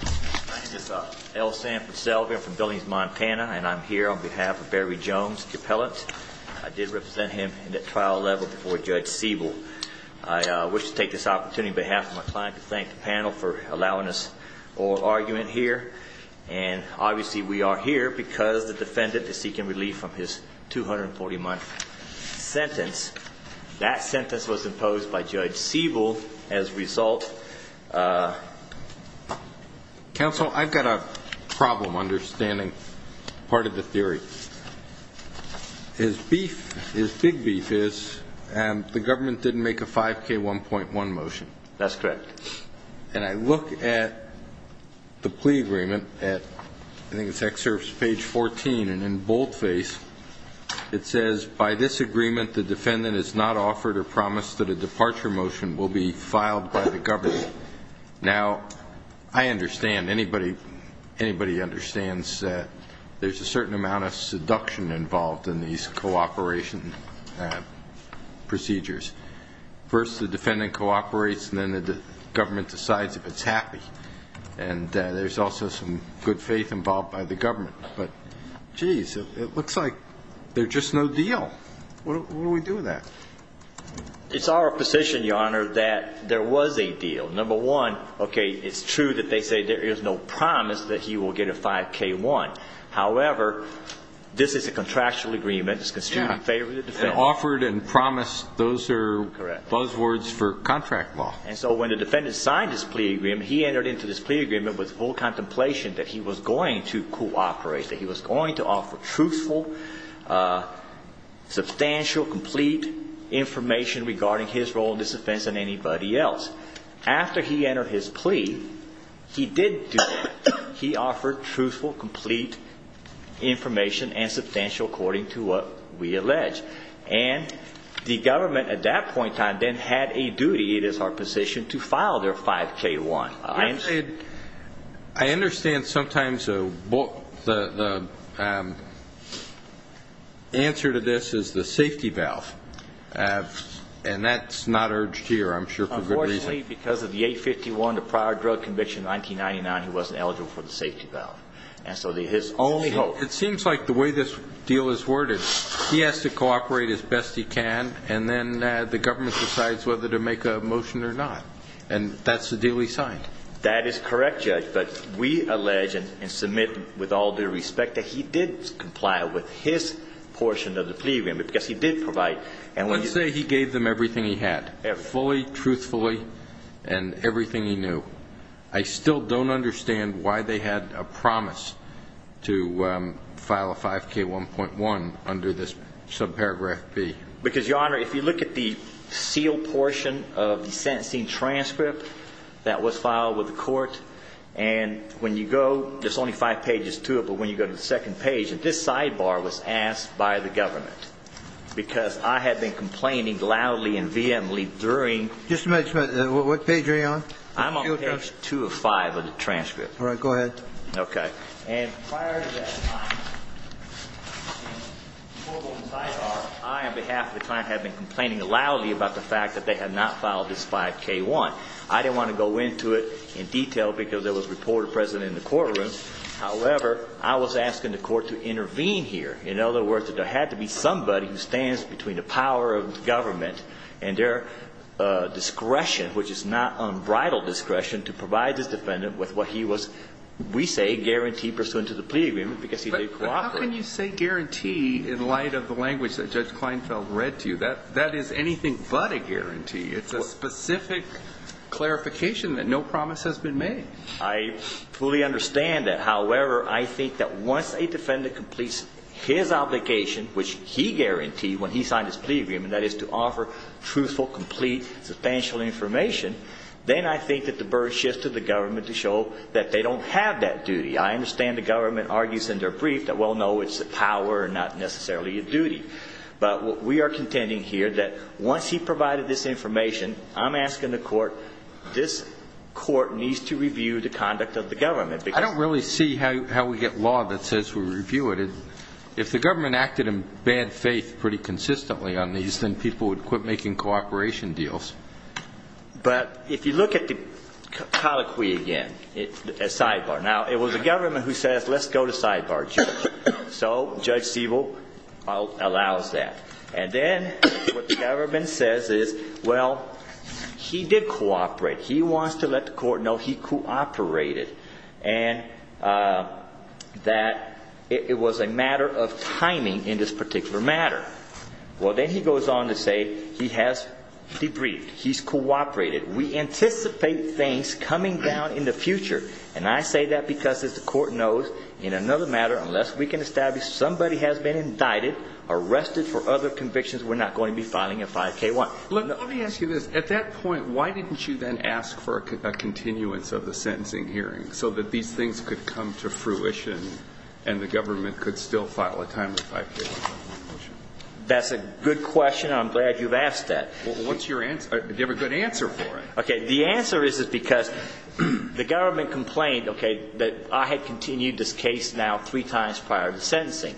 I'm here on behalf of Barry Jones, the appellant. I did represent him in that trial level before Judge Siebel. I wish to take this opportunity on behalf of my client to thank the panel for allowing this oral argument here. And obviously we are here because the defendant is seeking relief from his 240-month sentence. That sentence was imposed by Judge Siebel as a result. Counsel, I've got a problem understanding part of the theory. His beef, his big beef is the government didn't make a 5K1.1 motion. That's correct. And I look at the plea agreement at, I think it's excerpts page 14, and in boldface it says, by this agreement the defendant is not offered or promised that a departure motion will be filed by the government. Now, I understand, anybody understands that there's a certain amount of seduction involved in these cooperation procedures. First the defendant cooperates and then the government decides if it's happy. And there's also some good faith involved by the government. But, geez, it looks like there's just no deal. What do we do with that? It's our position, Your Honor, that there was a deal. Number one, okay, it's true that they say there is no promise that he will get a 5K1. However, this is a contractual agreement. It's constituted in favor of the defendant. Offered and promised, those are buzzwords for contract law. And so when the defendant signed this plea agreement, he entered into this plea agreement with full contemplation that he was going to cooperate, that he was going to offer truthful, substantial, complete information regarding his role in this offense and anybody else. After he entered his plea, he did do that. He offered truthful, complete information and substantial according to what we allege. And the government at that point in time then had a duty, it is our position, to file their 5K1. I understand sometimes the answer to this is the safety valve. And that's not urged here, I'm sure for good reason. Because of the 851, the prior drug conviction in 1999, he wasn't eligible for the safety valve. It seems like the way this deal is worded, he has to cooperate as best he can and then the government decides whether to make a motion or not. And that's the deal he signed. That is correct, Judge, but we allege and submit with all due respect that he did comply with his portion of the plea agreement because he did provide. Let's say he gave them everything he had, fully, truthfully, and everything he knew. I still don't understand why they had a promise to file a 5K1.1 under this subparagraph B. Because, Your Honor, if you look at the sealed portion of the sentencing transcript that was filed with the court, and when you go, there's only five pages to it, but when you go to the second page, this sidebar was asked by the government. Because I had been complaining loudly and vehemently during... Just a minute, just a minute. What page are you on? I'm on page two of five of the transcript. All right, go ahead. Okay. And prior to that, I, on behalf of the client, had been complaining loudly about the fact that they had not filed this 5K1. I didn't want to go into it in detail because it was reported present in the courtroom. However, I was asking the court to intervene here. In other words, there had to be somebody who stands between the power of government and their discretion, which is not unbridled discretion, to provide this defendant with what he was, we say, guaranteed pursuant to the plea agreement because he did cooperate. But how can you say guarantee in light of the language that Judge Kleinfeld read to you? That is anything but a guarantee. It's a specific clarification that no promise has been made. I fully understand that. However, I think that once a defendant completes his obligation, which he guaranteed when he signed his plea agreement, that is to offer truthful, complete, substantial information, then I think that the bird shifts to the government to show that they don't have that duty. I understand the government argues in their brief that, well, no, it's a power and not necessarily a duty. But we are contending here that once he provided this information, I'm asking the court, this court needs to review the conduct of the government. I don't really see how we get law that says we review it. If the government acted in bad faith pretty consistently on these, then people would quit making cooperation deals. But if you look at the colloquy again, at sidebar, now, it was the government who says, let's go to sidebar, Judge. So Judge Siebel allows that. And then what the government says is, well, he did cooperate. He wants to let the court know he cooperated and that it was a matter of timing in this particular matter. Well, then he goes on to say he has debriefed. He's cooperated. We anticipate things coming down in the future. And I say that because, as the court knows, in another matter, unless we can establish somebody has been indicted, arrested for other convictions, we're not going to be filing a 5K1. Let me ask you this. At that point, why didn't you then ask for a continuance of the sentencing hearing so that these things could come to fruition and the government could still file a timely 5K1? That's a good question. I'm glad you've asked that. Well, what's your answer? Do you have a good answer for it? The answer is because the government complained that I had continued this case now three times prior to sentencing.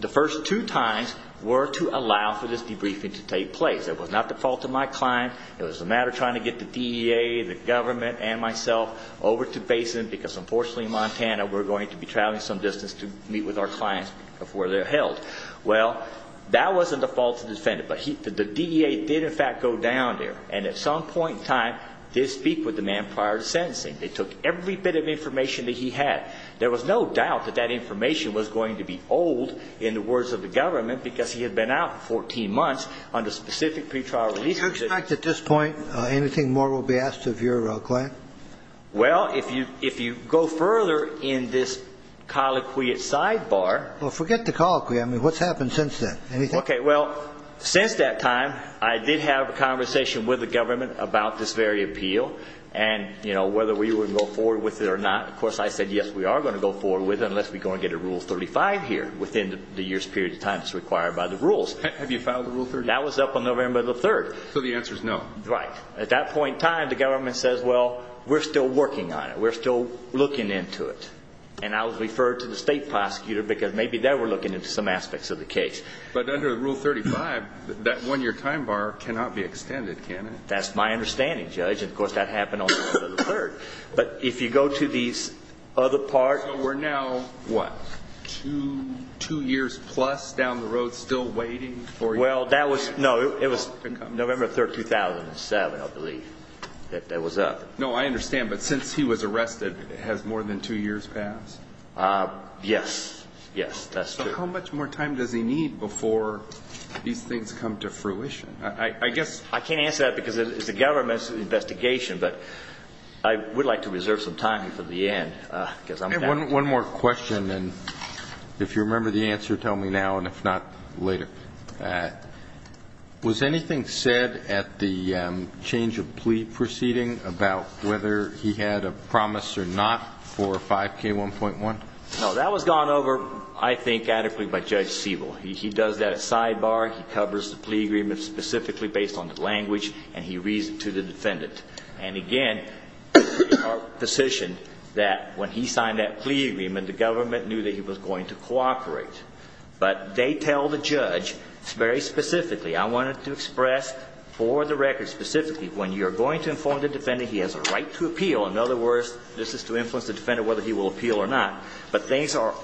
The first two times were to allow for this debriefing to take place. It was not the fault of my client. It was a matter of trying to get the DEA, the government, and myself over to Basin because, unfortunately, in Montana, we're going to be traveling some distance to meet with our clients before they're held. Well, that wasn't the fault of the defendant. But the DEA did, in fact, go down there. And at some point in time, did speak with the man prior to sentencing. They took every bit of information that he had. There was no doubt that that information was going to be old, in the words of the government, because he had been out for 14 months under specific pretrial releases. Do you expect at this point anything more will be asked of your client? Well, if you go further in this colloquial sidebar. Well, forget the colloquy. I mean, what's happened since then? Anything? Okay, well, since that time, I did have a conversation with the government about this very appeal and whether we would go forward with it or not. Of course, I said, yes, we are going to go forward with it unless we go and get a Rule 35 here within the year's period of time that's required by the rules. Have you filed the Rule 35? That was up on November the 3rd. So the answer is no. Right. At that point in time, the government says, well, we're still working on it. We're still looking into it. And I was referred to the state prosecutor because maybe they were looking into some aspects of the case. But under Rule 35, that one-year time bar cannot be extended, can it? That's my understanding, Judge. And, of course, that happened on November the 3rd. But if you go to these other parts. So we're now, what, two years plus down the road still waiting for you? Well, that was, no, it was November 3rd, 2007, I believe, that that was up. No, I understand. But since he was arrested, has more than two years passed? Yes. Yes, that's true. How much more time does he need before these things come to fruition? I guess. I can't answer that because it's a government investigation. But I would like to reserve some time for the end. One more question, and if you remember the answer, tell me now, and if not, later. Was anything said at the change of plea proceeding about whether he had a promise or not for 5K1.1? No, that was gone over, I think, adequately by Judge Siebel. He does that at sidebar. He covers the plea agreement specifically based on the language, and he reads it to the defendant. And, again, our position that when he signed that plea agreement, the government knew that he was going to cooperate. But they tell the judge very specifically, I wanted to express for the record specifically, when you're going to inform the defendant he has a right to appeal, in other words, this is to influence the defendant whether he will appeal or not. But things are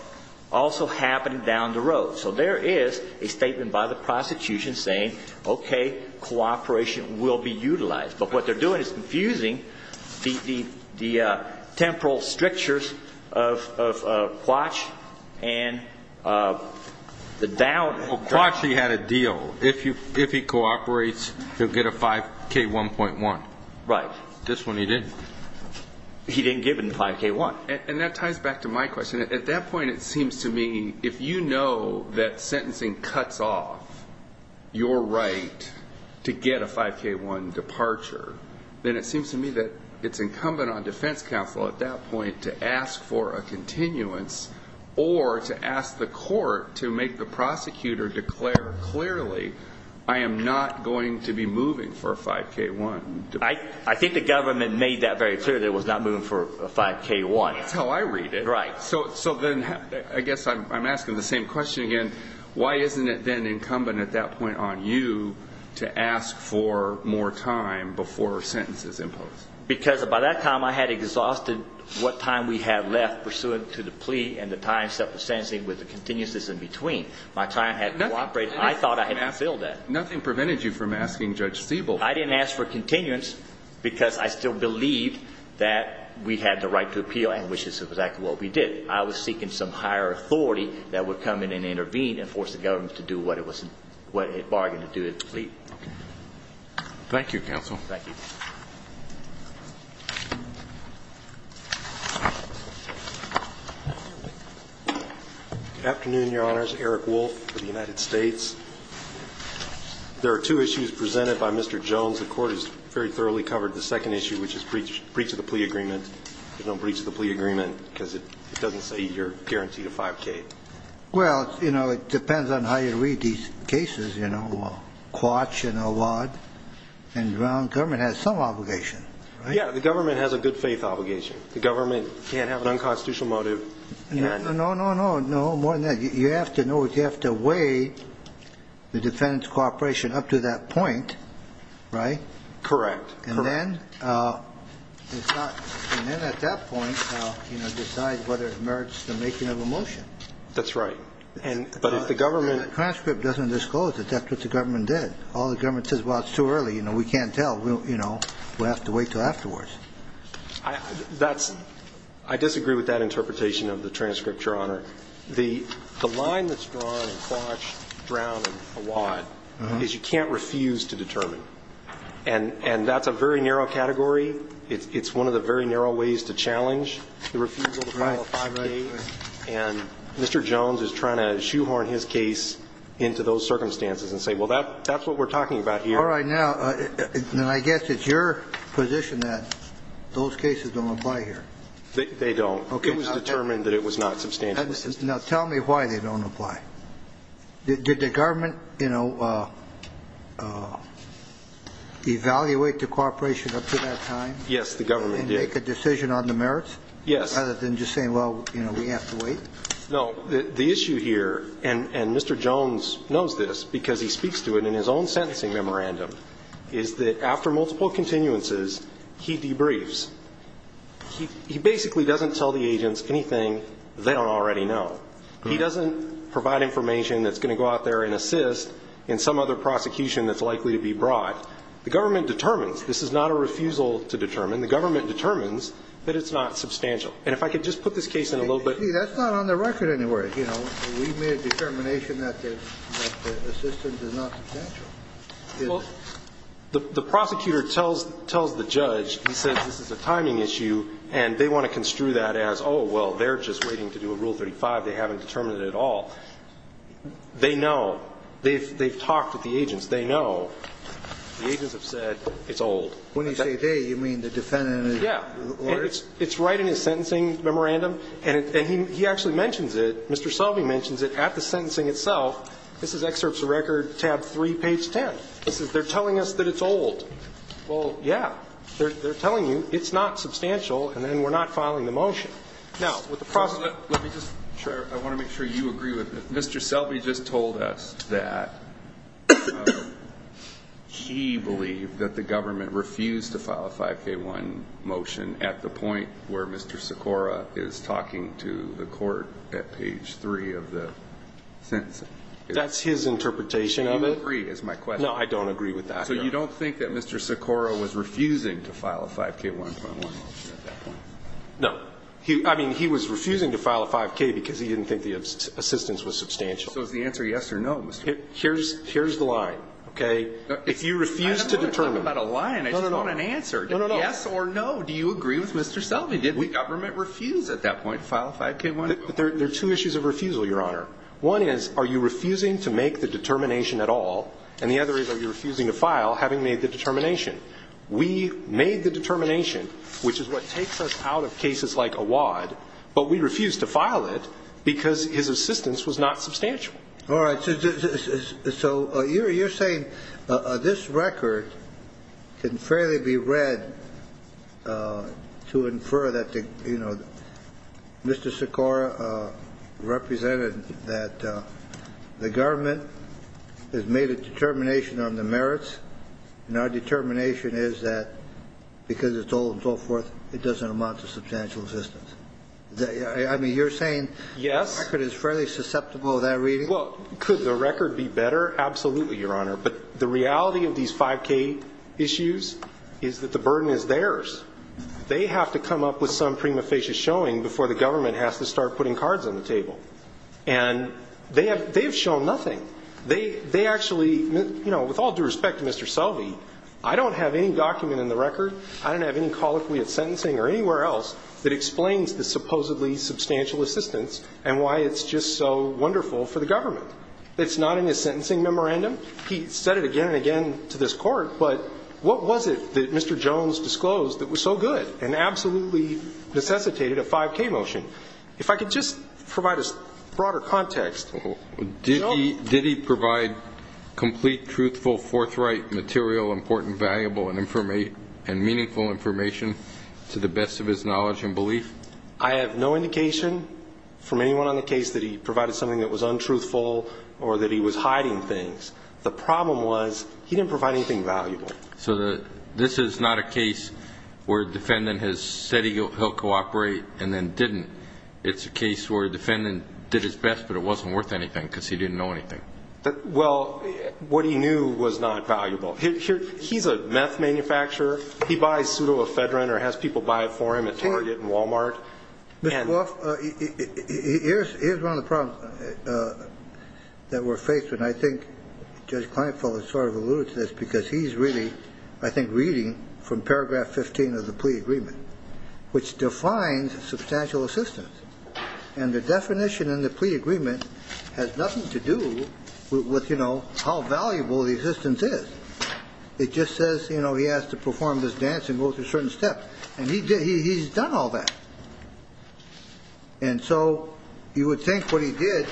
also happening down the road. So there is a statement by the prosecution saying, okay, cooperation will be utilized. But what they're doing is confusing the temporal strictures of Quatch and the down. Well, Quatch, he had a deal. If he cooperates, he'll get a 5K1.1. Right. This one he didn't. He didn't give him the 5K1. And that ties back to my question. At that point, it seems to me if you know that sentencing cuts off your right to get a 5K1 departure, then it seems to me that it's incumbent on defense counsel at that point to ask for a continuance or to ask the court to make the prosecutor declare clearly I am not going to be moving for a 5K1. I think the government made that very clear that it was not moving for a 5K1. That's how I read it. Right. So then I guess I'm asking the same question again. Why isn't it then incumbent at that point on you to ask for more time before sentences impose? Because by that time I had exhausted what time we had left pursuant to the plea and the time set for sentencing with the continuousness in between. My time had cooperated. I thought I had fulfilled that. Nothing prevented you from asking Judge Siebel. I didn't ask for continuance because I still believed that we had the right to appeal and which is exactly what we did. I was seeking some higher authority that would come in and intervene and force the government to do what it bargained to do at the plea. Okay. Thank you, counsel. Thank you. Good afternoon, Your Honors. Eric Wolf for the United States. There are two issues presented by Mr. Jones. The Court has very thoroughly covered the second issue, which is breach of the plea agreement. There's no breach of the plea agreement because it doesn't say you're guaranteed a 5K. Well, you know, it depends on how you read these cases, you know, Quatch and Awad. And the government has some obligation, right? Yeah, the government has a good faith obligation. The government can't have an unconstitutional motive. No, no, no, no. More than that, you have to weigh the defendant's cooperation up to that point, right? Correct, correct. And then at that point, you know, decide whether it merits the making of a motion. That's right. And the transcript doesn't disclose it. That's what the government did. All the government says, well, it's too early. You know, we can't tell. You know, we'll have to wait until afterwards. I disagree with that interpretation of the transcript, Your Honor. The line that's drawn in Quatch, Brown and Awad is you can't refuse to determine. And that's a very narrow category. It's one of the very narrow ways to challenge the refusal to file a 5K. And Mr. Jones is trying to shoehorn his case into those circumstances and say, well, that's what we're talking about here. All right. Now I guess it's your position that those cases don't apply here. They don't. It was determined that it was not substantial assistance. Now tell me why they don't apply. Did the government, you know, evaluate the cooperation up to that time? Yes, the government did. And make a decision on the merits? Yes. Rather than just saying, well, you know, we have to wait? No. The issue here, and Mr. Jones knows this because he speaks to it in his own sentencing memorandum, is that after multiple continuances, he debriefs. He basically doesn't tell the agents anything they don't already know. He doesn't provide information that's going to go out there and assist in some other prosecution that's likely to be brought. The government determines. This is not a refusal to determine. The government determines that it's not substantial. And if I could just put this case in a little bit. See, that's not on the record anywhere. You know, we made a determination that the assistance is not substantial. The prosecutor tells the judge, he says this is a timing issue, and they want to construe that as, oh, well, they're just waiting to do a Rule 35. They haven't determined it at all. They know. They've talked with the agents. They know. The agents have said it's old. When you say they, you mean the defendant? Yeah. It's right in his sentencing memorandum. And he actually mentions it. Mr. Selby mentions it at the sentencing itself. This is excerpts of record tab 3, page 10. This is, they're telling us that it's old. Well, yeah. They're telling you it's not substantial, and then we're not filing the motion. Now, with the prosecutor. Let me just, I want to make sure you agree with this. Mr. Selby just told us that he believed that the government refused to file a 5K1 motion at the point where Mr. Sikora is talking to the court at page 3 of the sentencing. That's his interpretation of it. So you don't agree, is my question. No, I don't agree with that. So you don't think that Mr. Sikora was refusing to file a 5K1? No. I mean, he was refusing to file a 5K because he didn't think the assistance was substantial. So is the answer yes or no, Mr. Selby? Here's the line, okay? If you refuse to determine. I'm not talking about a line. I just want an answer. Yes or no, do you agree with Mr. Selby? Did the government refuse at that point to file a 5K1? There are two issues of refusal, Your Honor. One is, are you refusing to make the determination at all? And the other is, are you refusing to file, having made the determination? We made the determination, which is what takes us out of cases like Awad, but we refused to file it because his assistance was not substantial. All right. So you're saying this record can fairly be read to infer that, you know, Mr. Sikora represented that the government has made a determination on the merits, and our determination is that because it's all and so forth, it doesn't amount to substantial assistance. I mean, you're saying. Yes. The record is fairly susceptible to that reading? Well, could the record be better? Absolutely, Your Honor. But the reality of these 5K issues is that the burden is theirs. They have to come up with some prima facie showing before the government has to start putting cards on the table. And they have shown nothing. They actually, you know, with all due respect to Mr. Selby, I don't have any document in the record, I don't have any colloquy of sentencing or anywhere else that explains the supposedly substantial assistance and why it's just so wonderful for the government. It's not in his sentencing memorandum. He said it again and again to this Court. But what was it that Mr. Jones disclosed that was so good and absolutely necessitated a 5K motion? If I could just provide a broader context. Did he provide complete, truthful, forthright, material, important, valuable, and meaningful information to the best of his knowledge and belief? I have no indication from anyone on the case that he provided something that was untruthful or that he was hiding things. The problem was he didn't provide anything valuable. So this is not a case where a defendant has said he'll cooperate and then didn't. It's a case where a defendant did his best but it wasn't worth anything because he didn't know anything. Well, what he knew was not valuable. He's a meth manufacturer. He buys pseudoephedrine or has people buy it for him at Target and Wal-Mart. Mr. Hoff, here's one of the problems that we're faced with, and I think Judge Kleinfeld has sort of alluded to this because he's really, I think, reading from paragraph 15 of the plea agreement, which defines substantial assistance. And the definition in the plea agreement has nothing to do with, you know, how valuable the assistance is. It just says, you know, he has to perform this dance and go through certain steps. And he's done all that. And so you would think what he did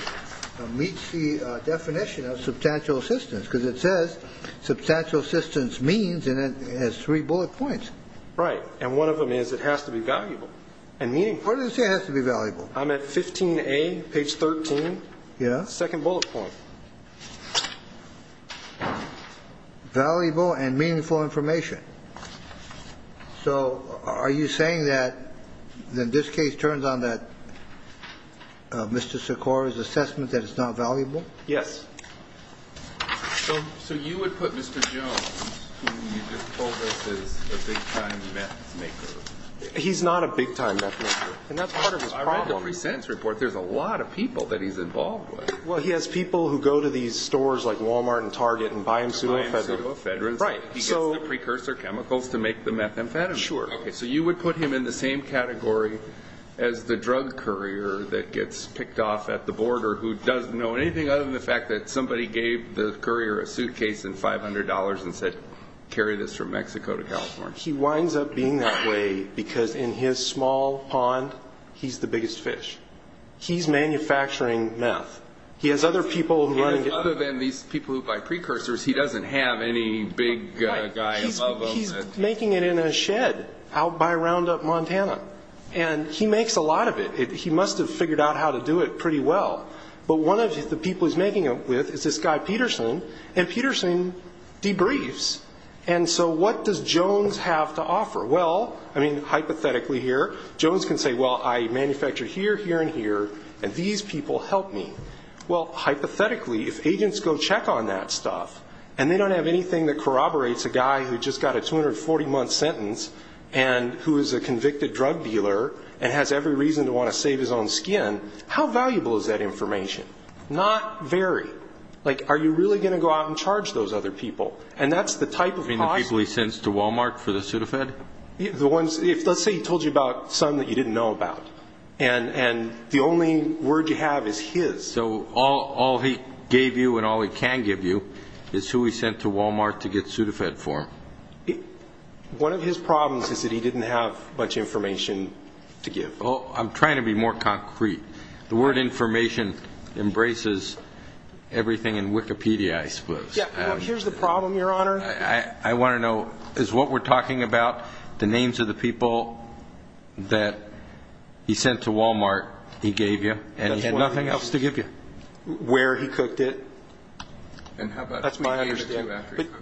meets the definition of substantial assistance because it says substantial assistance means, and it has three bullet points. Right. And one of them is it has to be valuable. What does it say has to be valuable? I'm at 15A, page 13, second bullet point. Valuable and meaningful information. So are you saying that then this case turns on that Mr. Sikora's assessment that it's not valuable? Yes. So you would put Mr. Jones, who you just told us is a big-time meth maker. He's not a big-time meth maker. And that's part of his problem. I read the presentence report. There's a lot of people that he's involved with. Well, he has people who go to these stores like Walmart and Target and buy him pseudoephedrine. Buy him pseudoephedrine. Right. He gets the precursor chemicals to make the methamphetamine. Sure. Okay, so you would put him in the same category as the drug courier that gets picked off at the border who doesn't know anything other than the fact that somebody gave the courier a suitcase and $500 and said, carry this from Mexico to California. He winds up being that way because in his small pond, he's the biggest fish. He's manufacturing meth. He has other people who run it. Other than these people who buy precursors, he doesn't have any big guy above him. He's making it in a shed out by Roundup, Montana. And he makes a lot of it. He must have figured out how to do it pretty well. But one of the people he's making it with is this guy Peterson, and Peterson debriefs. And so what does Jones have to offer? Well, I mean, hypothetically here, Jones can say, well, I manufacture here, here, and here, and these people help me. Well, hypothetically, if agents go check on that stuff and they don't have anything that corroborates a guy who just got a 240-month sentence and who is a convicted drug dealer and has every reason to want to save his own skin, how valuable is that information? Not very. Like, are you really going to go out and charge those other people? And that's the type of cost. You mean the people he sends to Walmart for the Sudafed? Let's say he told you about some that you didn't know about, and the only word you have is his. So all he gave you and all he can give you is who he sent to Walmart to get Sudafed for him. One of his problems is that he didn't have much information to give. I'm trying to be more concrete. The word information embraces everything in Wikipedia, I suppose. Here's the problem, Your Honor. I want to know, is what we're talking about the names of the people that he sent to Walmart, he gave you, and he had nothing else to give you? Where he cooked it. That's my understanding.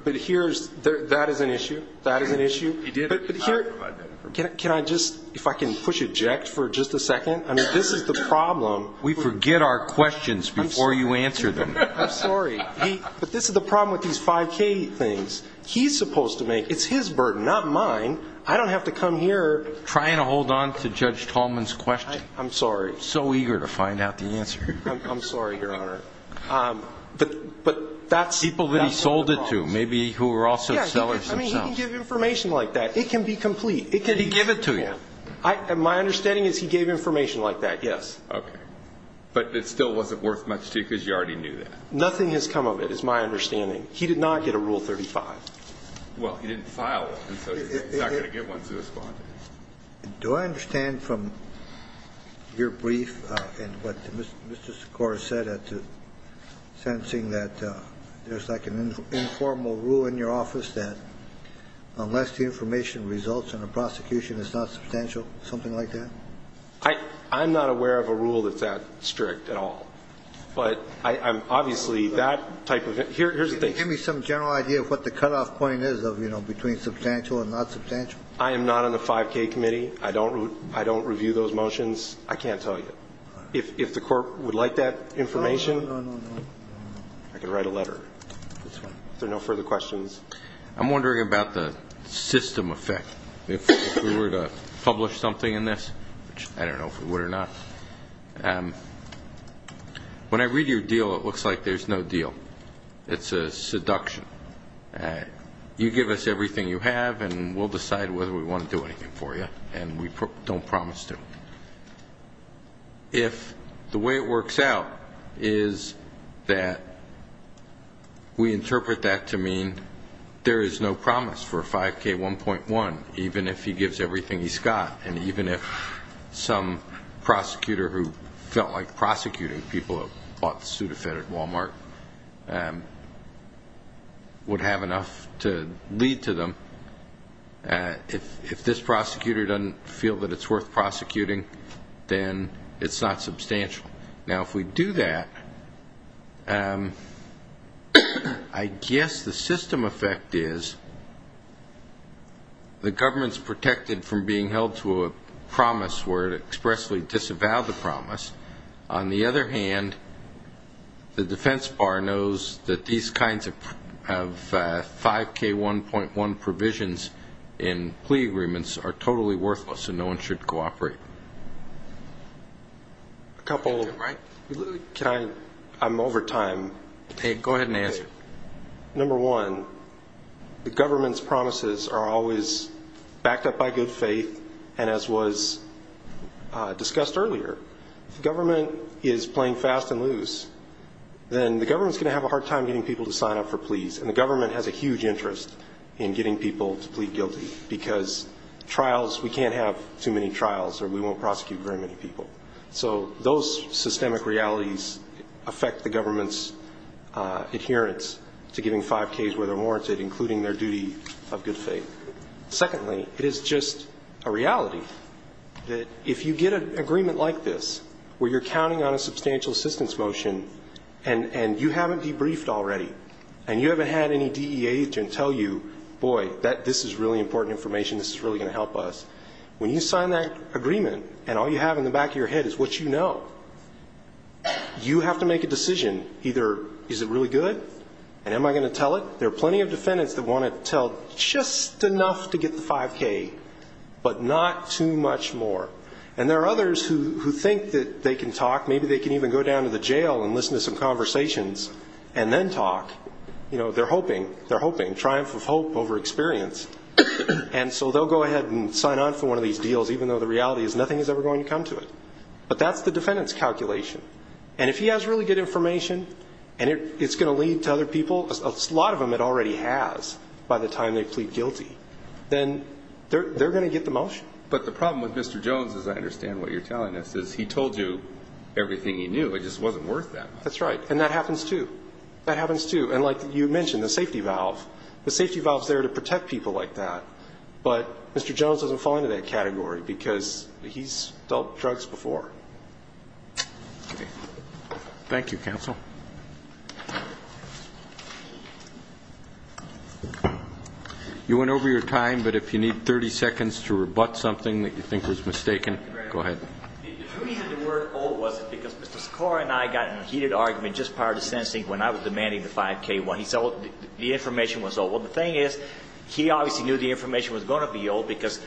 But here's, that is an issue. That is an issue. Can I just, if I can push eject for just a second? I mean, this is the problem. We forget our questions before you answer them. I'm sorry. But this is the problem with these 5K things. He's supposed to make, it's his burden, not mine. I don't have to come here. Trying to hold on to Judge Tallman's question. I'm sorry. So eager to find out the answer. I'm sorry, Your Honor. But that's the problem. People that he sold it to, maybe who were also sellers themselves. Yeah, I mean, he can give information like that. It can be complete. Can he give it to you? My understanding is he gave information like that, yes. Okay. But it still wasn't worth much to you because you already knew that. Nothing has come of it, is my understanding. He did not get a Rule 35. Well, he didn't file one, so he's not going to get one to respond. Do I understand from your brief and what Mr. Secura said at the sentencing that there's like an informal rule in your office that unless the information results in a prosecution, it's not substantial, something like that? I'm not aware of a rule that's that strict at all. But obviously that type of thing. Here's the thing. Can you give me some general idea of what the cutoff point is of, you know, between substantial and not substantial? I am not on the 5K committee. I don't review those motions. I can't tell you. If the court would like that information, I can write a letter. If there are no further questions. I'm wondering about the system effect. If we were to publish something in this, which I don't know if we would or not, when I read your deal, it looks like there's no deal. It's a seduction. You give us everything you have, and we'll decide whether we want to do anything for you, and we don't promise to. If the way it works out is that we interpret that to mean there is no promise for 5K 1.1, even if he gives everything he's got, and even if some prosecutor who felt like prosecuting people who bought Sudafed at Walmart would have enough to lead to them, if this prosecutor doesn't feel that it's worth prosecuting, then it's not substantial. Now, if we do that, I guess the system effect is the government's protected from being held to a promise where it expressly disavowed the promise. On the other hand, the defense bar knows that these kinds of 5K 1.1 provisions in plea agreements are totally worthless, and no one should cooperate. I'm over time. Go ahead and answer. Number one, the government's promises are always backed up by good faith, and as was discussed earlier, if the government is playing fast and loose, then the government's going to have a hard time getting people to sign up for pleas, and the government has a huge interest in getting people to plead guilty because trials, we can't have too many trials or we won't prosecute very many people. So those systemic realities affect the government's adherence to giving 5Ks where they're warranted, including their duty of good faith. Secondly, it is just a reality that if you get an agreement like this where you're counting on a substantial assistance motion and you haven't debriefed already and you haven't had any DEA agent tell you, boy, this is really important information, this is really going to help us, when you sign that agreement and all you have in the back of your head is what you know, you have to make a decision. Either is it really good, and am I going to tell it? There are plenty of defendants that want to tell just enough to get the 5K, but not too much more. And there are others who think that they can talk, maybe they can even go down to the jail and listen to some conversations and then talk. They're hoping, they're hoping, triumph of hope over experience. And so they'll go ahead and sign on for one of these deals, even though the reality is nothing is ever going to come to it. But that's the defendant's calculation. And if he has really good information and it's going to lead to other people, a lot of them it already has by the time they plead guilty, then they're going to get the motion. But the problem with Mr. Jones, as I understand what you're telling us, is he told you everything he knew. It really just wasn't worth that. That's right. And that happens, too. That happens, too. And like you mentioned, the safety valve, the safety valve is there to protect people like that. But Mr. Jones doesn't fall into that category because he's dealt drugs before. Okay. Thank you, counsel. You went over your time, but if you need 30 seconds to rebut something that you think was mistaken, go ahead. The reason the word old wasn't because Mr. Sikora and I got in a heated argument just prior to sentencing when I was demanding the 5K1. He said, well, the information was old. Well, the thing is, he obviously knew the information was going to be old because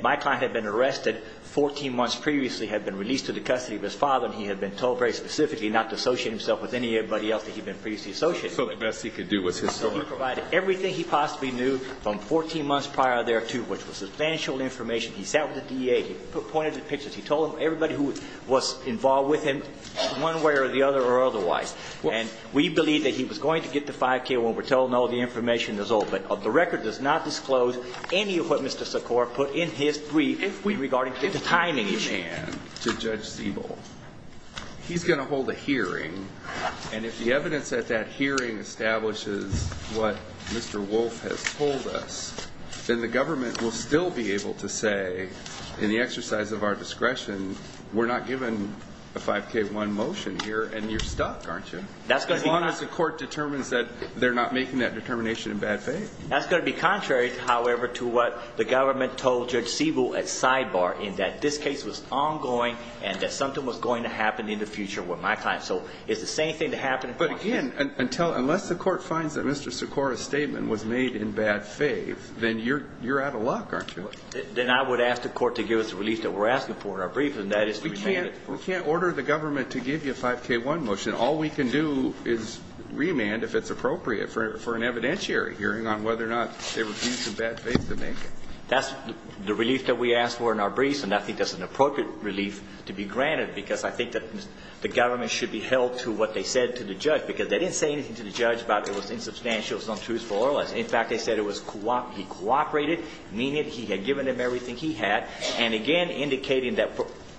my client had been arrested 14 months previously, had been released to the custody of his father, and he had been told very specifically not to associate himself with anybody else that he'd been previously associated with. So the best he could do was his story. So he provided everything he possibly knew from 14 months prior thereto, which was substantial information. He sat with the DA. He pointed at pictures. He told everybody who was involved with him one way or the other or otherwise. And we believe that he was going to get the 5K1. We're told, no, the information is old. But the record does not disclose any of what Mr. Sikora put in his brief regarding the timing issue. If we give a hand to Judge Siebel, he's going to hold a hearing, and if the evidence at that hearing establishes what Mr. Wolfe has told us, then the government will still be able to say, in the exercise of our discretion, we're not giving a 5K1 motion here, and you're stuck, aren't you? As long as the court determines that they're not making that determination in bad faith. That's going to be contrary, however, to what the government told Judge Siebel at sidebar, in that this case was ongoing and that something was going to happen in the future with my client. Well, again, unless the court finds that Mr. Sikora's statement was made in bad faith, then you're out of luck, aren't you? Then I would ask the court to give us the relief that we're asking for in our briefing. We can't order the government to give you a 5K1 motion. All we can do is remand, if it's appropriate, for an evidentiary hearing on whether or not they refused in bad faith to make it. That's the relief that we asked for in our briefing, and I think that's an appropriate relief to be granted because I think that the government should be held to what they said to the judge because they didn't say anything to the judge about it was insubstantial, it was untruthful, or less. In fact, they said he cooperated, meaning he had given them everything he had, and, again, indicating that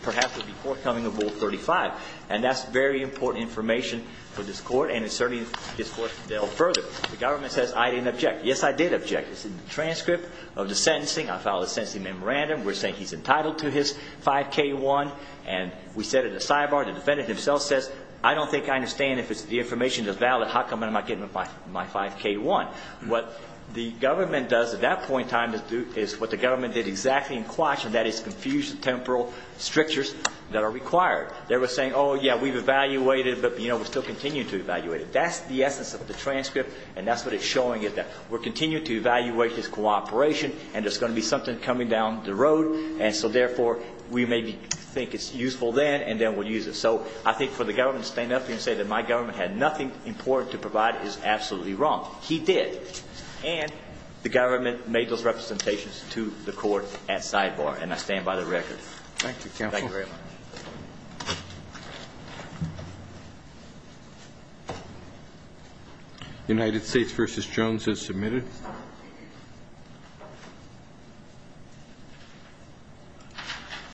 perhaps it would be forthcoming of Rule 35. And that's very important information for this court, and it certainly is worth delving further. The government says, I didn't object. Yes, I did object. It's in the transcript of the sentencing. I filed a sentencing memorandum. We're saying he's entitled to his 5K1, and we set it aside. The defendant himself says, I don't think I understand. If the information is valid, how come I'm not getting my 5K1? What the government does at that point in time is what the government did exactly in Quash, and that is confuse the temporal strictures that are required. They were saying, oh, yeah, we've evaluated, but we're still continuing to evaluate it. That's the essence of the transcript, and that's what it's showing, that we're continuing to evaluate his cooperation, and there's going to be something coming down the road, and so, therefore, we maybe think it's useful then, and then we'll use it. So I think for the government to stand up here and say that my government had nothing important to provide is absolutely wrong. He did, and the government made those representations to the court at sidebar, and I stand by the record. Thank you, counsel. Thank you very much. United States v. Jones is submitted.